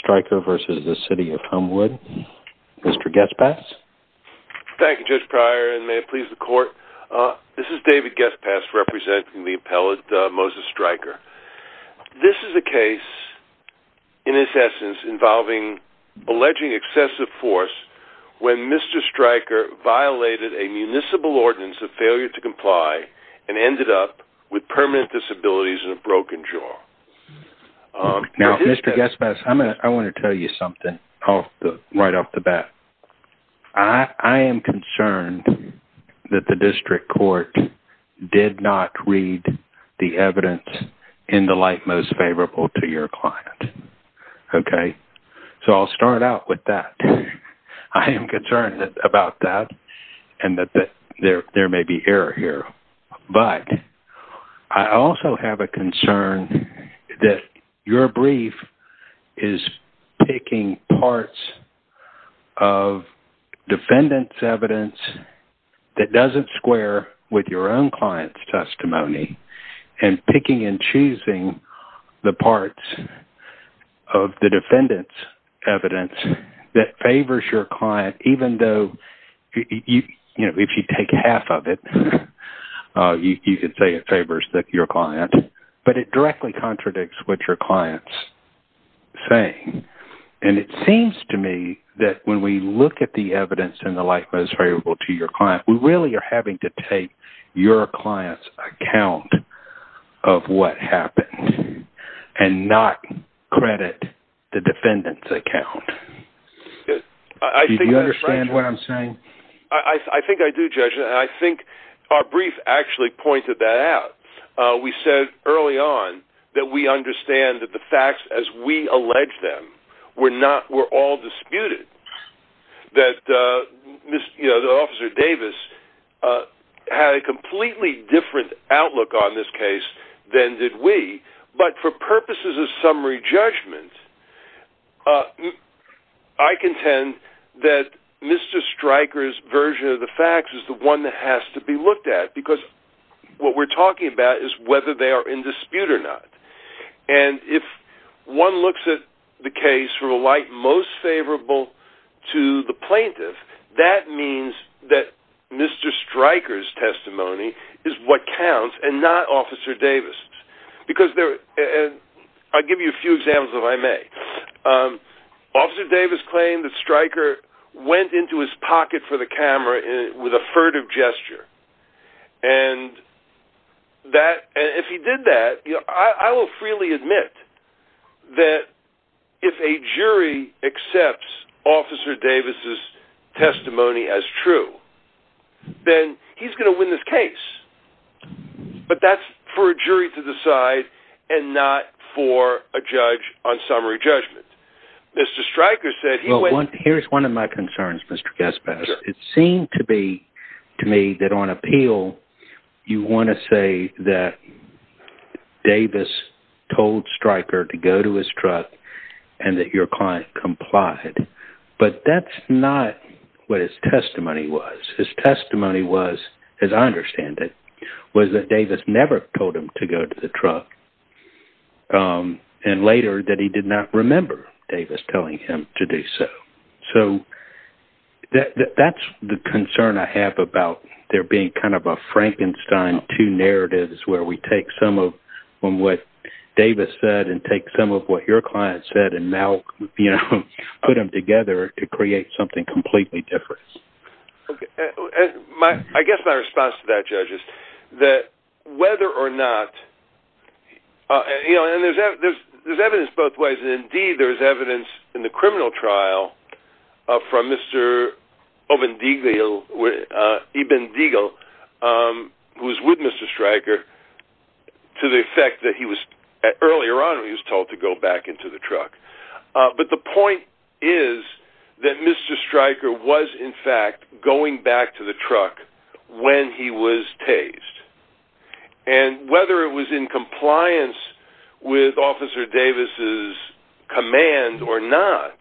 Stryker v. the City of Homewood. Mr. Guestpass? Thank you, Judge Pryor, and may it please the Court. This is David Guestpass, representing the appellate Moses Stryker. This is a case, in its essence, involving alleging excessive force when Mr. Stryker violated a municipal ordinance of failure to comply and ended up with permanent disabilities and a broken jaw. Now, Mr. Guestpass, I want to tell you something right off the bat. I am concerned that the District Court did not read the evidence in the light most favorable to your client. Okay? So I'll start out with that. I am concerned about that and that there may be error here. But I also have a concern that your brief is picking parts of defendant's evidence that doesn't square with your own client's testimony and picking and choosing the parts of the defendant's evidence that favors your client, but it directly contradicts what your client's saying. And it seems to me that when we look at the evidence in the light most favorable to your client, we really are having to take your client's account of what happened and not credit the defendant's account. Do you understand what I'm saying? I think I do, Judge, and I actually pointed that out. We said early on that we understand that the facts as we allege them were not, were all disputed. That, you know, Officer Davis had a completely different outlook on this case than did we, but for purposes of summary judgment, I contend that Mr. Stryker's version of the facts is the one that has to be looked at because what we're talking about is whether they are in dispute or not. And if one looks at the case from the light most favorable to the plaintiff, that means that Mr. Stryker's testimony is what counts and not Officer Davis's. Because there, I'll give you a few examples if I may. Officer Davis claimed that Stryker went into his pocket for the And that, if he did that, I will freely admit that if a jury accepts Officer Davis's testimony as true, then he's going to win this case. But that's for a jury to decide and not for a judge on summary judgment. Mr. Stryker said he went- To me, that on appeal, you want to say that Davis told Stryker to go to his truck and that your client complied. But that's not what his testimony was. His testimony was, as I understand it, was that Davis never told him to go to the truck. And later, that he did not have about there being kind of a Frankenstein two narratives where we take some of what Davis said and take some of what your client said and now, you know, put them together to create something completely different. I guess my response to that, Judge, is that whether or not- and there's evidence both ways. Indeed, there's evidence in the criminal trial from Mr. Ibn Deagle, who was with Mr. Stryker, to the effect that he was- earlier on, he was told to go back into the going back to the truck when he was tased. And whether it was in compliance with Officer Davis's command or not,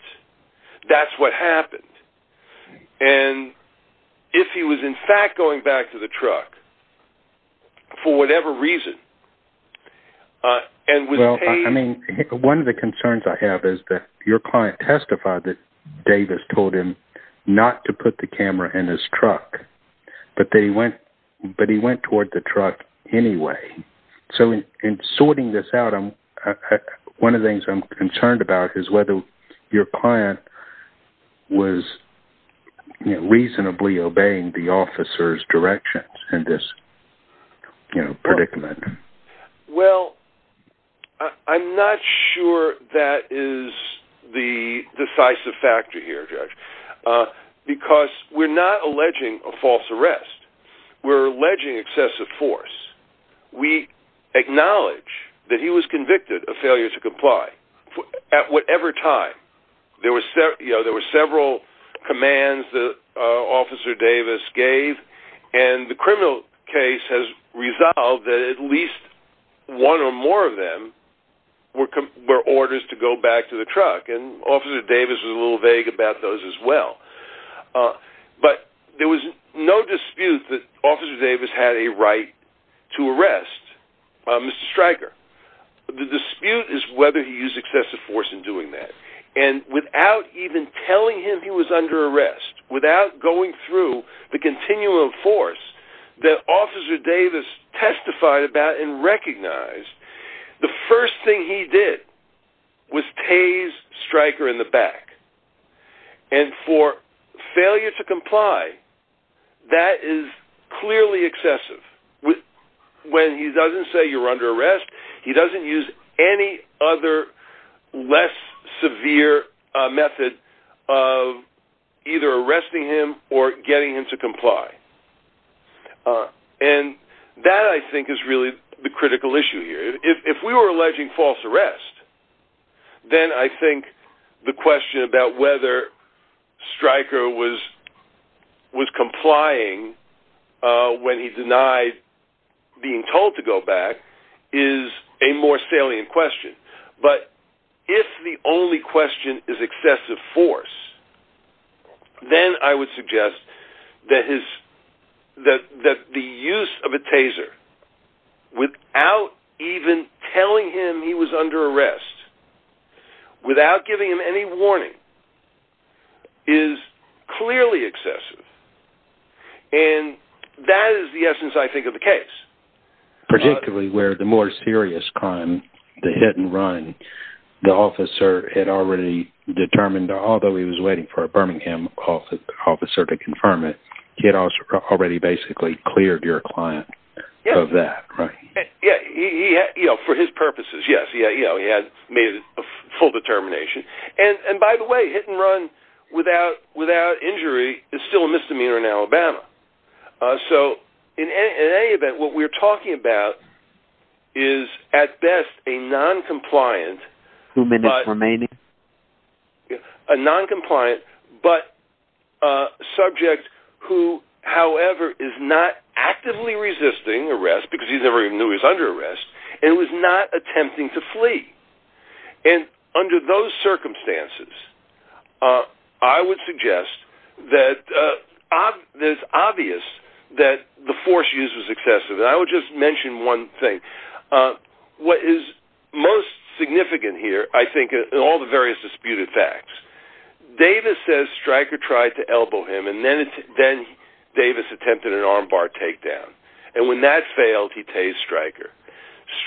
that's what happened. And if he was, in fact, going back to the truck for whatever reason, and was- Well, I mean, one of the concerns I have is that your client testified that Davis told him not to put the camera in his truck, but he went toward the truck anyway. So in sorting this out, one of the things I'm concerned about is whether your client was reasonably obeying the officer's directions in this, you know, predicament. Well, I'm not sure that is the decisive factor here, Judge, because we're not alleging a false arrest. We're alleging excessive force. We acknowledge that he was convicted of failure to comply at whatever time. There were several commands that Officer Davis gave, and the criminal case has resolved that at least one or more of them were orders to go back to the truck, and Officer Davis was a little vague about those as well. But there was no dispute that Officer Davis had a right to arrest Mr. Stryker. The dispute is whether he used excessive force in doing that. And without even telling him he was under arrest, without going through the continuum of force that Officer Davis testified about and recognized, the first thing he did was tase Stryker in the back. And for any other less severe method of either arresting him or getting him to comply. And that, I think, is really the critical issue here. If we were alleging false arrest, then I think the question about whether Stryker was complying when he denied being told to go back is a more salient question. But if the only question is excessive force, then I would suggest that the use of a taser without even telling him he was under arrest, without giving him any warning, is clearly excessive. And that is the essence, I think, of the case. Particularly where the more serious crime, the hit-and-run, the officer had already determined, although he was waiting for a Birmingham officer to confirm it, he had already basically cleared your client of that, right? Yeah, for his purposes, yes. He had made a full determination. And by the way, hit-and-run without injury is still a misdemeanor in Alabama. So, in any event, what we're talking about is, at best, a non-compliant, but a subject who, however, is not actively resisting arrest because he never even knew he was under arrest, and was not attempting to flee. And under those circumstances, I would suggest that it's obvious that the force used was excessive. And I would just mention one thing. What is most significant here, I think, in all the various disputed facts, Davis says Stryker tried to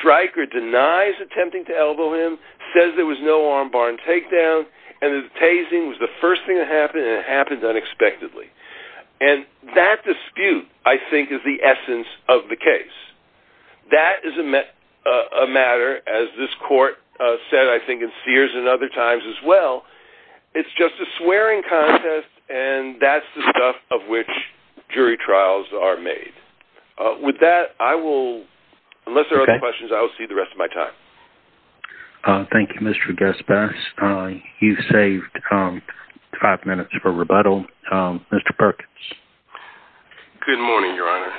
Stryker denies attempting to elbow him, says there was no armbar and takedown, and that the tasing was the first thing that happened, and it happened unexpectedly. And that dispute, I think, is the essence of the case. That is a matter, as this court said, I think, in Sears and other times as well, it's just a swearing contest, and that's the stuff of which jury trials are made. With that, I will, unless there are other questions, I will see you the rest of my time. Thank you, Mr. Gaspas. You've saved five minutes for rebuttal. Mr. Perkins. Good morning, Your Honor.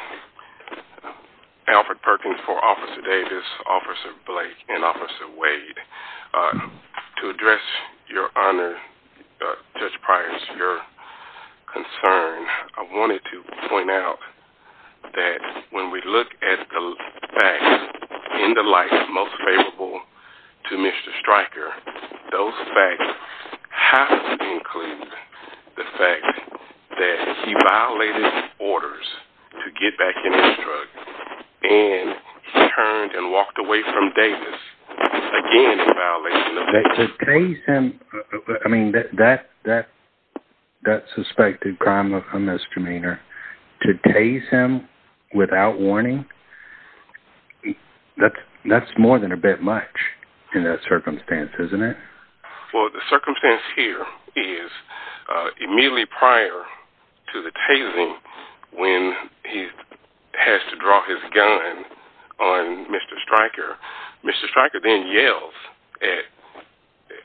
Alfred Perkins for Officer Davis, Officer Blake, and Officer Wade. To address, Your Honor, Judge Price, your concern, I wanted to point out that when we look at the facts in the light most favorable to Mr. Stryker, those facts have to include the fact that he violated orders to get back in his truck, and he turned and walked away from Davis, again, in violation of the law. To tase him, I mean, that suspected crime of a misdemeanor, to tase him without warning, that's more than a bit much in that circumstance, isn't it? Well, the circumstance here is, immediately prior to the tasing, when he has to draw his gun on Mr. Stryker, Mr. Stryker then yells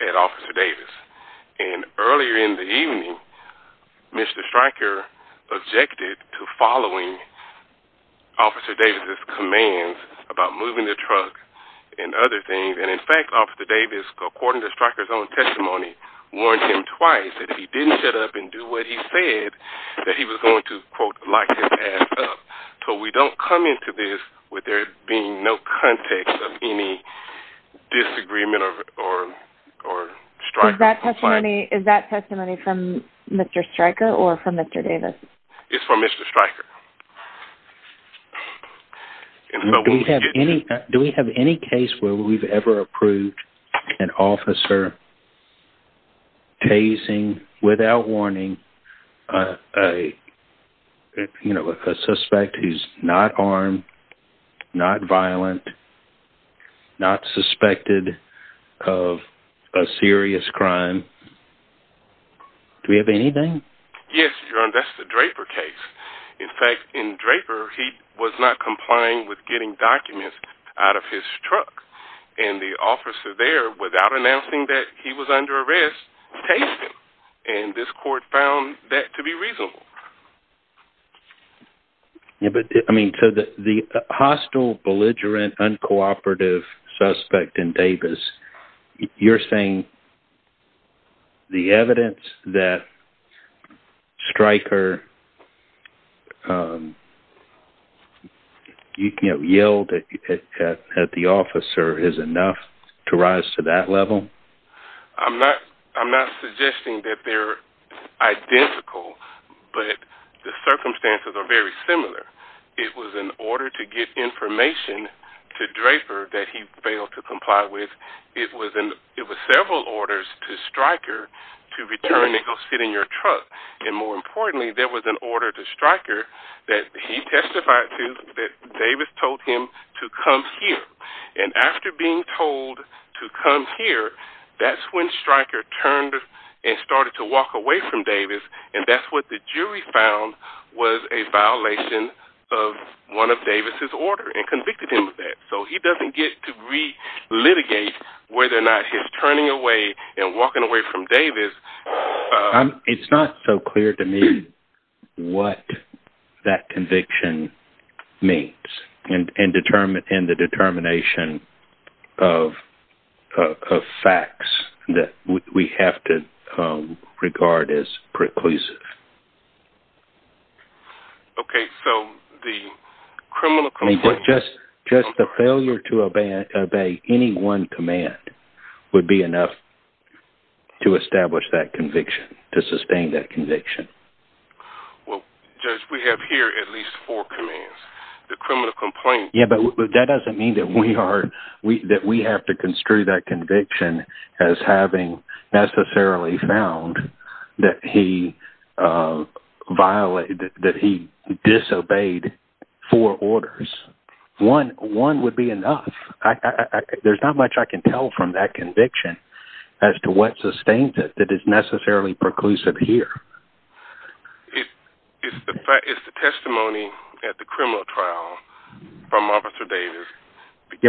at Officer Davis, and earlier in the evening, Mr. Stryker objected to following Officer Davis' commands about moving the truck and other things, and in fact, Officer Davis, according to Stryker's own testimony, warned him twice that if he didn't shut up and do what he said, that he was going to, quote, lock his ass up. So we don't come into this with there being no context of any disagreement or strife. Is that testimony from Mr. Stryker or from Mr. Davis? It's from Mr. Stryker. Do we have any case where we've ever approved an officer tasing, without warning, a suspect who's not armed, not violent, not suspected of a serious crime? Do we have anything? Yes, Your Honor, that's the Draper case. In fact, in Draper, he was not complying with getting documents out of his truck, and the officer there, without announcing that he was under arrest, tased him, and this court found that to be reasonable. I mean, so the hostile, belligerent, uncooperative suspect in Davis, you're saying the evidence that Stryker yelled at the officer is enough to rise to that level? I'm not suggesting that they're identical, but the circumstances are very similar. It was an order to get information to Draper that he failed to comply with. It was several orders to Stryker to return and go sit in your truck. And more importantly, there was an order to Stryker that he testified to that Davis told him to come here. And after being told to come here, that's when Stryker turned and started to walk away from Davis, and that's what the jury found was a violation of one of Davis' orders and convicted him of that. So he doesn't get to re-litigate whether or not his turning away and walking away from Davis... It's not so clear to me what that conviction means, and the determination of facts that we have to regard as preclusive. Just the failure to obey any one command would be enough to establish that conviction, to sustain that conviction. Well, Judge, we have here at least four commands. The criminal complaint... It's the testimony at the criminal trial from Officer Davis.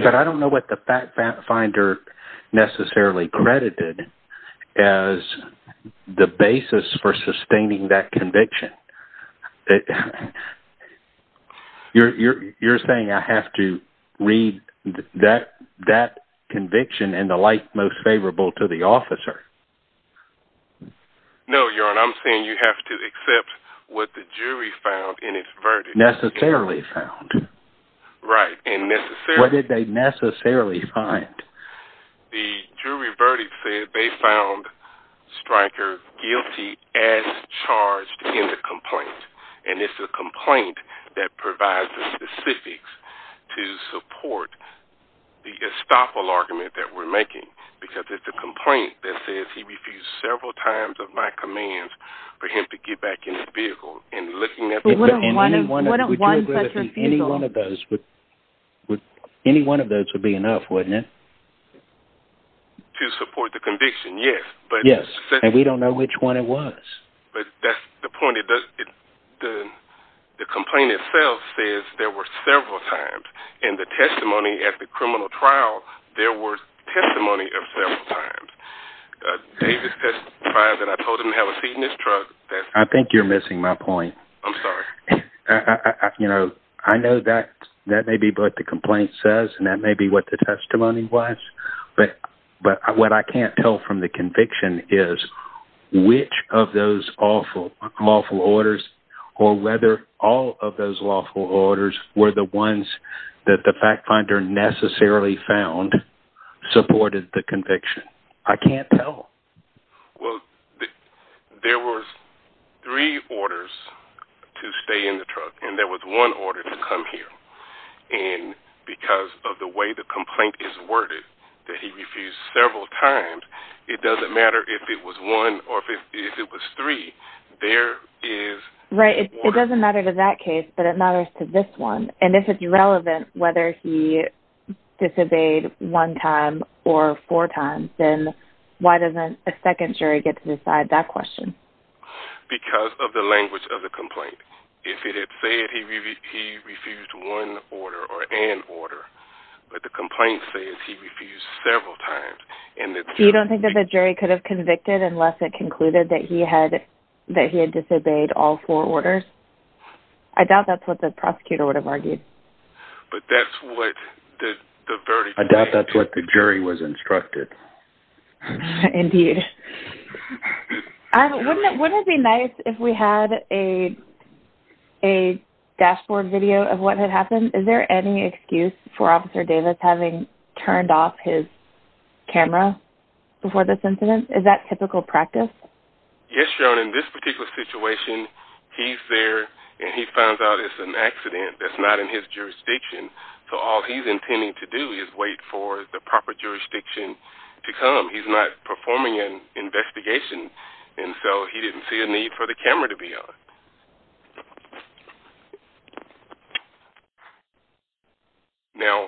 But I don't know what the fact finder necessarily credited as the basis for sustaining that conviction. You're saying I have to read that conviction in the light most favorable to the officer? No, Your Honor, I'm saying you have to accept what the jury found in its verdict. Necessarily found? Right, and necessarily... What did they necessarily find? The jury verdict said they found Stryker guilty as charged in the complaint, and it's the complaint that provides the specifics to support the estoppel argument that we're making, because it's the complaint that says he refused several times of my commands for him to get back in the vehicle. Wouldn't one such refusal... Any one of those would be enough, wouldn't it? To support the conviction, yes. Yes, and we don't know which one it was. But that's the point. The complaint itself says there were several times, and the testimony at the criminal trial, there were testimonies of several times. Davis testified that I told him to have a seat in his truck. I think you're missing my point. I'm sorry. I know that may be what the complaint says, and that may be what the testimony was, but what I can't tell from the conviction is which of those lawful orders or whether all of those lawful orders were the ones that the fact finder necessarily found supported the conviction. I can't tell. Well, there were three orders to stay in the truck, and there was one order to come here. And because of the way the complaint is worded, that he refused several times, it doesn't matter if it was one or if it was three, there is... ...a second jury gets to decide that question. Because of the language of the complaint. If it had said he refused one order or an order, but the complaint says he refused several times... You don't think that the jury could have convicted unless it concluded that he had disobeyed all four orders? I doubt that's what the prosecutor would have argued. But that's what the verdict... I doubt that's what the jury was instructed. Indeed. Wouldn't it be nice if we had a dashboard video of what had happened? Is there any excuse for Officer Davis having turned off his camera before this incident? Is that typical practice? Yes, Joan. In this particular situation, he's there, and he found out it's an accident that's not in his jurisdiction. So all he's intending to do is wait for the proper jurisdiction to come. He's not performing an investigation, and so he didn't see a need for the camera to be on. Now,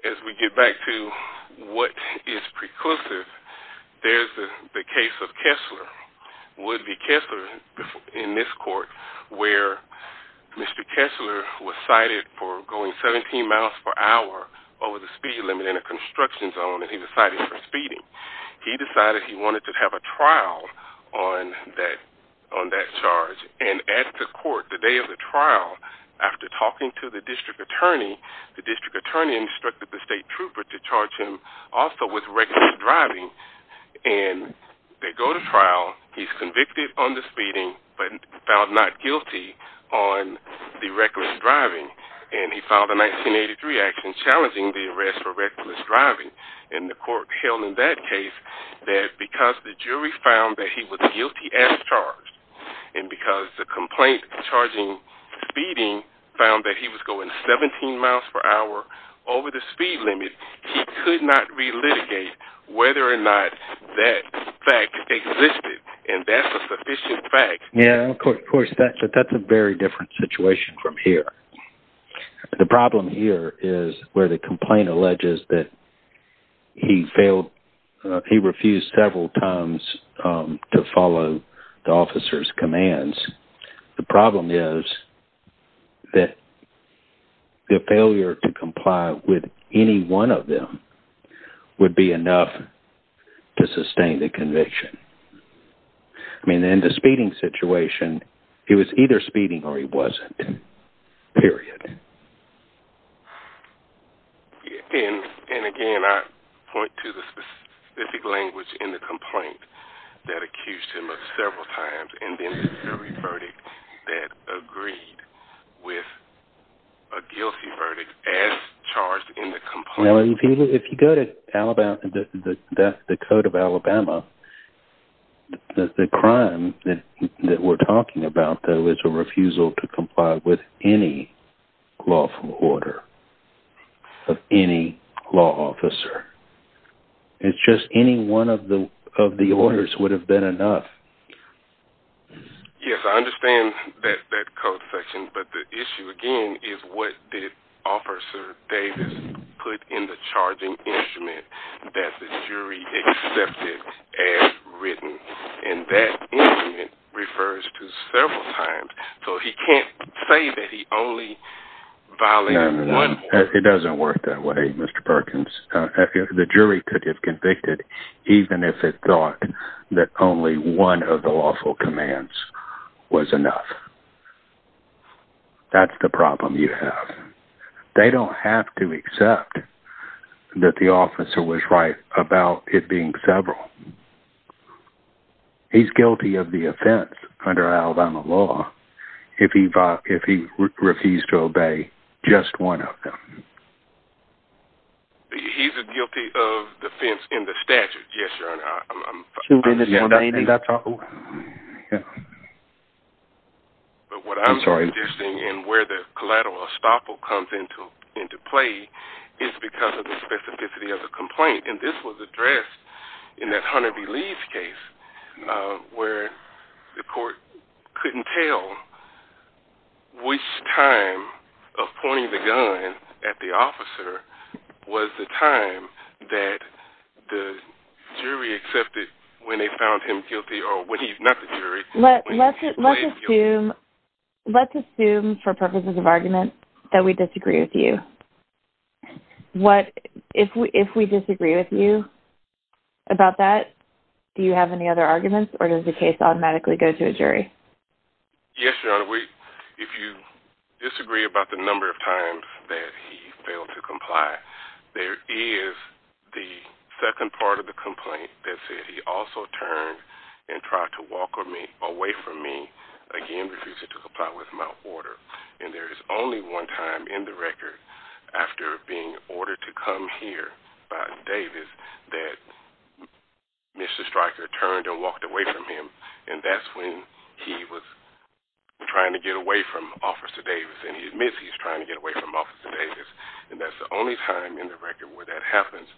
as we get back to what is preclusive, there's the case of Kessler. Wood v. Kessler in this court, where Mr. Kessler was cited for going 17 miles per hour over the speed limit in a construction zone, and he was cited for speeding. He decided he wanted to have a trial on that charge, and at the court, the day of the trial, after talking to the district attorney, the district attorney instructed the state trooper to charge him also with reckless driving, and they go to trial. He's convicted on the speeding but found not guilty on the reckless driving, and he filed a 1983 action challenging the arrest for reckless driving, and the court held in that case that because the jury found that he was guilty as charged and because the complaint charging speeding found that he was going 17 miles per hour over the speed limit, he could not relitigate whether or not that fact existed, and that's a sufficient fact. Yeah, of course, but that's a very different situation from here. The problem here is where the complaint alleges that he refused several times to follow the officer's commands. The problem is that the failure to comply with any one of them would be enough to sustain the conviction. I mean, in the speeding situation, he was either speeding or he wasn't, period. And again, I point to the specific language in the complaint that accused him of several times, and then the jury verdict that agreed with a guilty verdict as charged in the complaint. Now, if you go to the Code of Alabama, the crime that we're talking about, though, is a refusal to comply with any lawful order of any law officer. It's just any one of the orders would have been enough. Yes, I understand that code section, but the issue again is what did Officer Davis put in the charging instrument that the jury accepted as written, and that instrument refers to several times, so he can't say that he only violated one order. It doesn't work that way, Mr. Perkins. The jury could have convicted even if it thought that only one of the lawful commands was enough. That's the problem you have. They don't have to accept that the officer was right about it being several. He's guilty of the offense under Alabama law if he refused to obey just one of them. He's guilty of offense in the statute. But what I'm suggesting and where the collateral estoppel comes into play is because of the specificity of the complaint, and this was addressed in that Hunter B. Lee's case where the court couldn't tell which time of pointing the gun at the officer was the time that the jury accepted when they found him guilty or when he's not the jury. Let's assume for purposes of argument that we disagree with you. If we disagree with you about that, do you have any other arguments, Yes, Your Honor. If you disagree about the number of times that he failed to comply, there is the second part of the complaint that said he also turned and tried to walk away from me, again refusing to comply with my order, and there is only one time in the record after being ordered to come here by Davis that Mr. Stryker turned and walked away from him, and that's when he was trying to get away from Officer Davis, and he admits he's trying to get away from Officer Davis, and that's the only time in the record where that happens.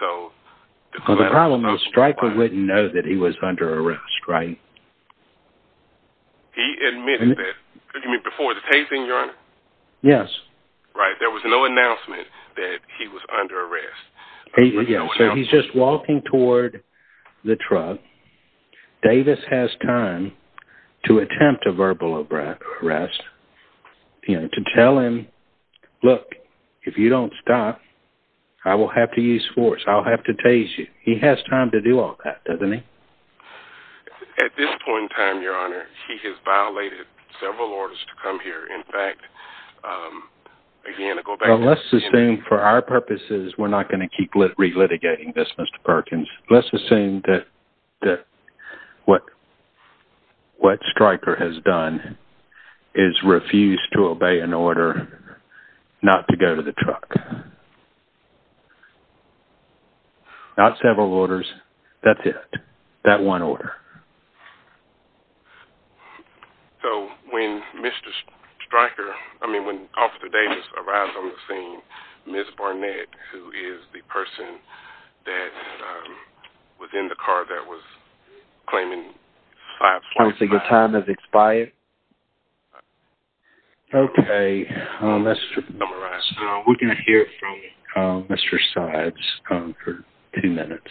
The problem is Stryker wouldn't know that he was under arrest, right? He admitted that. You mean before the case, Your Honor? Yes. Right, there was no announcement that he was under arrest. Yes, so he's just walking toward the truck. Davis has time to attempt a verbal arrest, to tell him, look, if you don't stop, I will have to use force. I'll have to tase you. He has time to do all that, doesn't he? At this point in time, Your Honor, he has violated several orders to come here. In fact, again, to go back to... Well, let's assume for our purposes, we're not going to keep relitigating this, Mr. Perkins. Let's assume that what Stryker has done is refuse to obey an order not to go to the truck. Not several orders, that's it, that one order. So when Mr. Stryker, I mean when Officer Davis arrives on the scene, Ms. Barnett, who is the person that was in the car that was claiming 545... Counsel, your time has expired. Okay, let's summarize. We're going to hear from Mr. Sides for two minutes.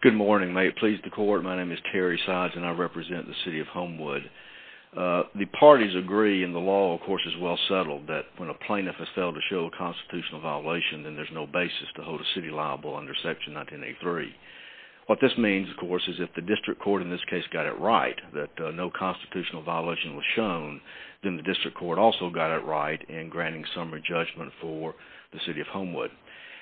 Good morning, may it please the court. My name is Terry Sides, and I represent the city of Homewood. The parties agree, and the law, of course, is well settled, that when a plaintiff has failed to show a constitutional violation, then there's no basis to hold a city liable under Section 1983. What this means, of course, is if the district court in this case got it right that no constitutional violation was shown, then the district court also got it right in granting summary judgment for the city of Homewood.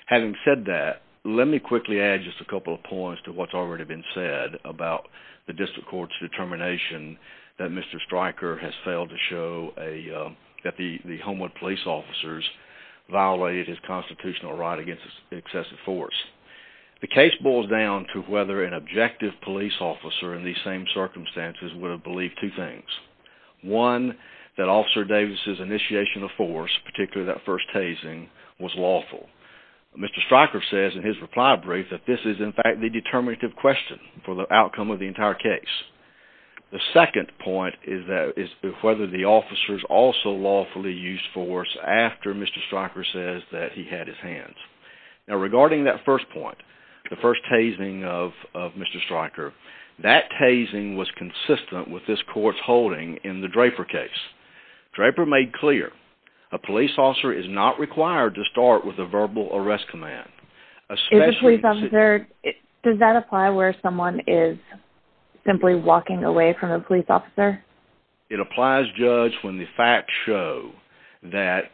Having said that, let me quickly add just a couple of points to what's already been said about the district court's determination that Mr. Stryker has failed to show that the Homewood police officers violated his constitutional right against excessive force. The case boils down to whether an objective police officer in these same circumstances would have believed two things. One, that Officer Davis's initiation of force, particularly that first hazing, was lawful. Mr. Stryker says in his reply brief that this is, in fact, the determinative question for the outcome of the entire case. The second point is whether the officers also lawfully used force after Mr. Stryker says that he had his hands. Now, regarding that first point, the first hazing of Mr. Stryker, that hazing was consistent with this court's holding in the Draper case. Draper made clear a police officer is not required to start with a verbal arrest command. Does that apply where someone is simply walking away from a police officer? It applies, Judge, when the facts show that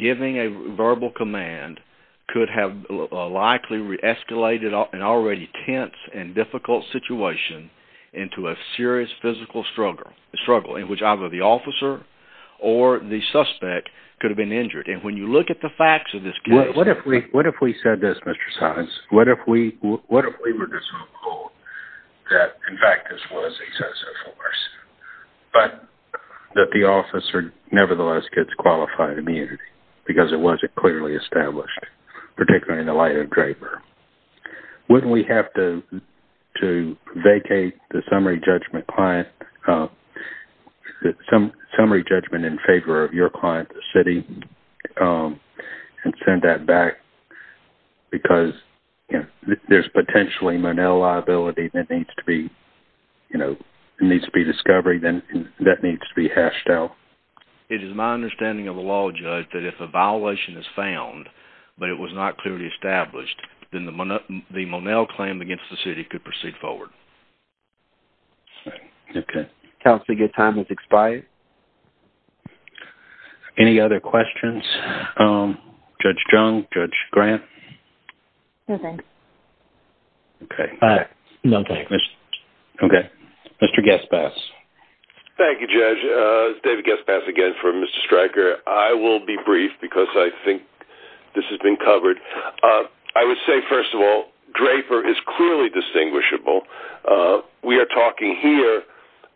giving a verbal command could have likely escalated an already tense and difficult situation into a serious physical struggle in which either the officer or the suspect could have been injured. And when you look at the facts of this case... What if we said this, Mr. Saenz? What if we were to suppose that, in fact, this was excessive force, but that the officer nevertheless gets qualified immunity because it wasn't clearly established, particularly in the light of Draper? Wouldn't we have to vacate the summary judgment in favor of your client, the city, and send that back? Because there's potentially Monell liability that needs to be discovered and that needs to be hashed out. It is my understanding of the law, Judge, that if a violation is found but it was not clearly established, then the Monell claim against the city could proceed forward. Counsel, your time has expired. Any other questions? Judge Jung? Judge Grant? Nothing. Okay. Nothing. Okay. Mr. Gespass. Thank you, Judge. David Gespass again for Mr. Stryker. I will be brief because I think this has been covered. I would say, first of all, Draper is clearly distinguishable. We are talking here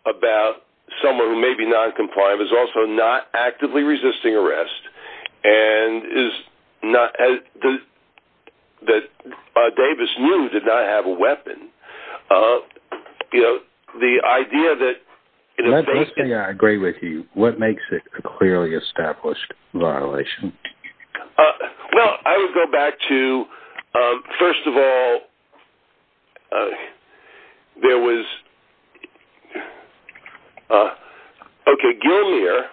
about someone who may be noncompliant but at the same time is also not actively resisting arrest and that Davis knew did not have a weapon. You know, the idea that in the face of it – Let's say I agree with you. What makes it a clearly established violation? Well, I would go back to, first of all, there was – okay, Gilmour,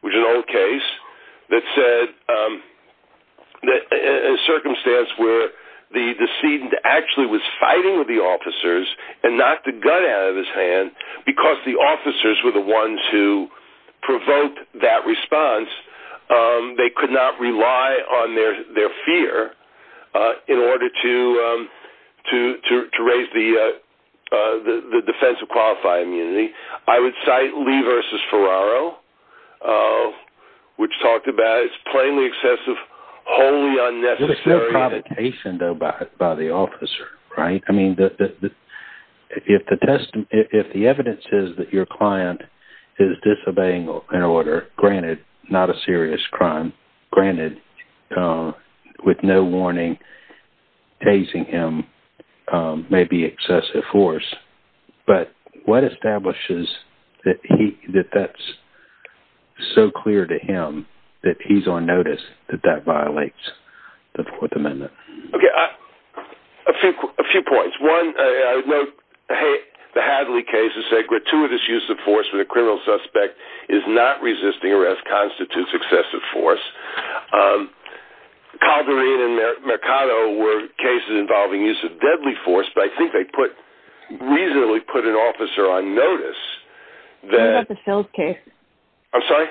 which is an old case that said a circumstance where the decedent actually was fighting with the officers and knocked the gun out of his hand because the officers were the ones who provoked that response. They could not rely on their fear in order to raise the defense of qualifying immunity. I would cite Lee v. Ferraro, which talked about it's plainly excessive, wholly unnecessary. There's no provocation, though, by the officer, right? I mean, if the evidence is that your client is disobeying an order, granted, not a serious crime, granted, with no warning, tasing him may be excessive force. But what establishes that that's so clear to him that he's on notice that that violates the Fourth Amendment? Okay, a few points. One, the Hadley case that said gratuitous use of force with a criminal suspect is not resisting arrest constitutes excessive force. Calderin and Mercado were cases involving use of deadly force, but I think they put – reasonably put an officer on notice that – What about the Fills case? I'm sorry?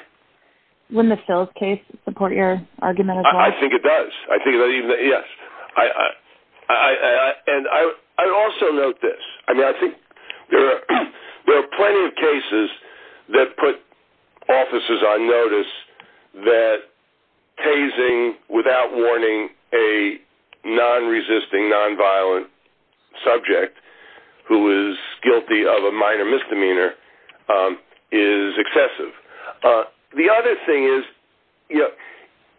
Wouldn't the Fills case support your argument as well? I think it does. I think that even – yes. And I would also note this. I mean, I think there are plenty of cases that put officers on notice that tasing without warning a non-resisting, non-violent subject who is guilty of a minor misdemeanor is excessive. The other thing is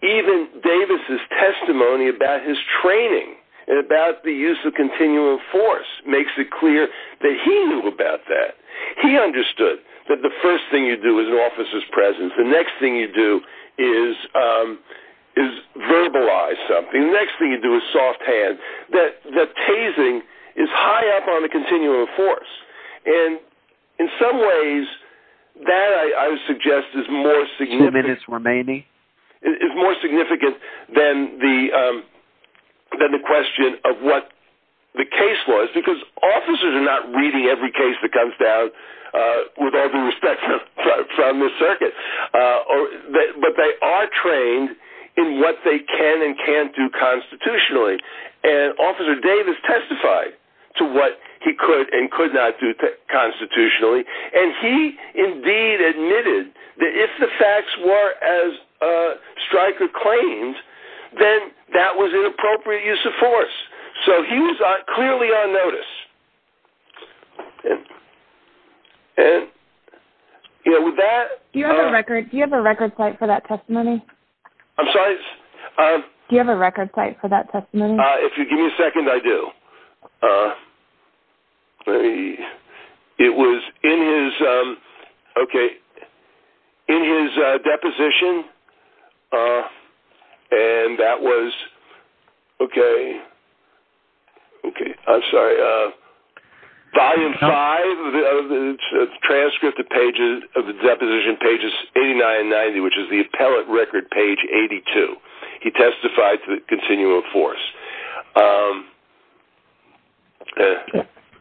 even Davis's testimony about his training and about the use of continual force makes it clear that he knew about that. He understood that the first thing you do is an officer's presence. The next thing you do is verbalize something. The next thing you do is soft hand. The tasing is high up on the continual force. And in some ways that, I would suggest, is more significant – Two minutes remaining. Is more significant than the question of what the case was because officers are not reading every case that comes down with all the respect from the circuit. But they are trained in what they can and can't do constitutionally. And Officer Davis testified to what he could and could not do constitutionally. And he, indeed, admitted that if the facts were as Stryker claimed, then that was inappropriate use of force. So he was clearly on notice. Do you have a record site for that testimony? I'm sorry? Do you have a record site for that testimony? If you give me a second, I do. It was in his deposition. And that was, okay, I'm sorry. Volume 5 of the transcript of the deposition, pages 89 and 90, which is the appellate record, page 82. He testified to the continuum of force.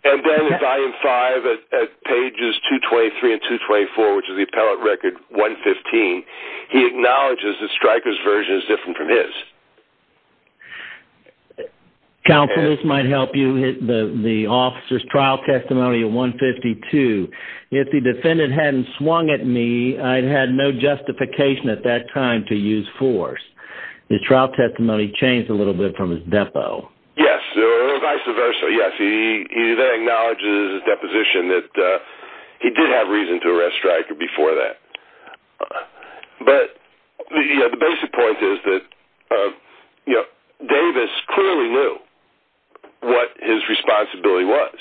And then in volume 5 at pages 223 and 224, which is the appellate record 115, he acknowledges that Stryker's version is different from his. Counsel, this might help you, the officer's trial testimony of 152. If the defendant hadn't swung at me, I'd had no justification at that time to use force. His trial testimony changed a little bit from his depo. Yes, or vice versa. Yes, he then acknowledges in his deposition that he did have reason to arrest Stryker before that. But the basic point is that Davis clearly knew what his responsibility was.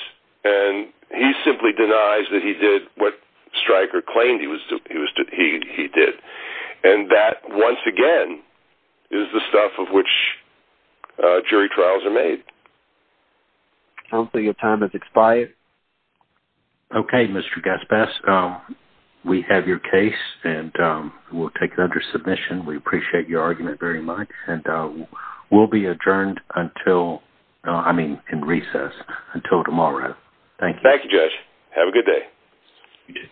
And he simply denies that he did what Stryker claimed he did. And that, once again, is the stuff of which jury trials are made. Counsel, your time has expired. Okay, Mr. Gaspas, we have your case and we'll take it under submission. We appreciate your argument very much. We'll be adjourned until tomorrow. Thank you, Judge. Have a good day.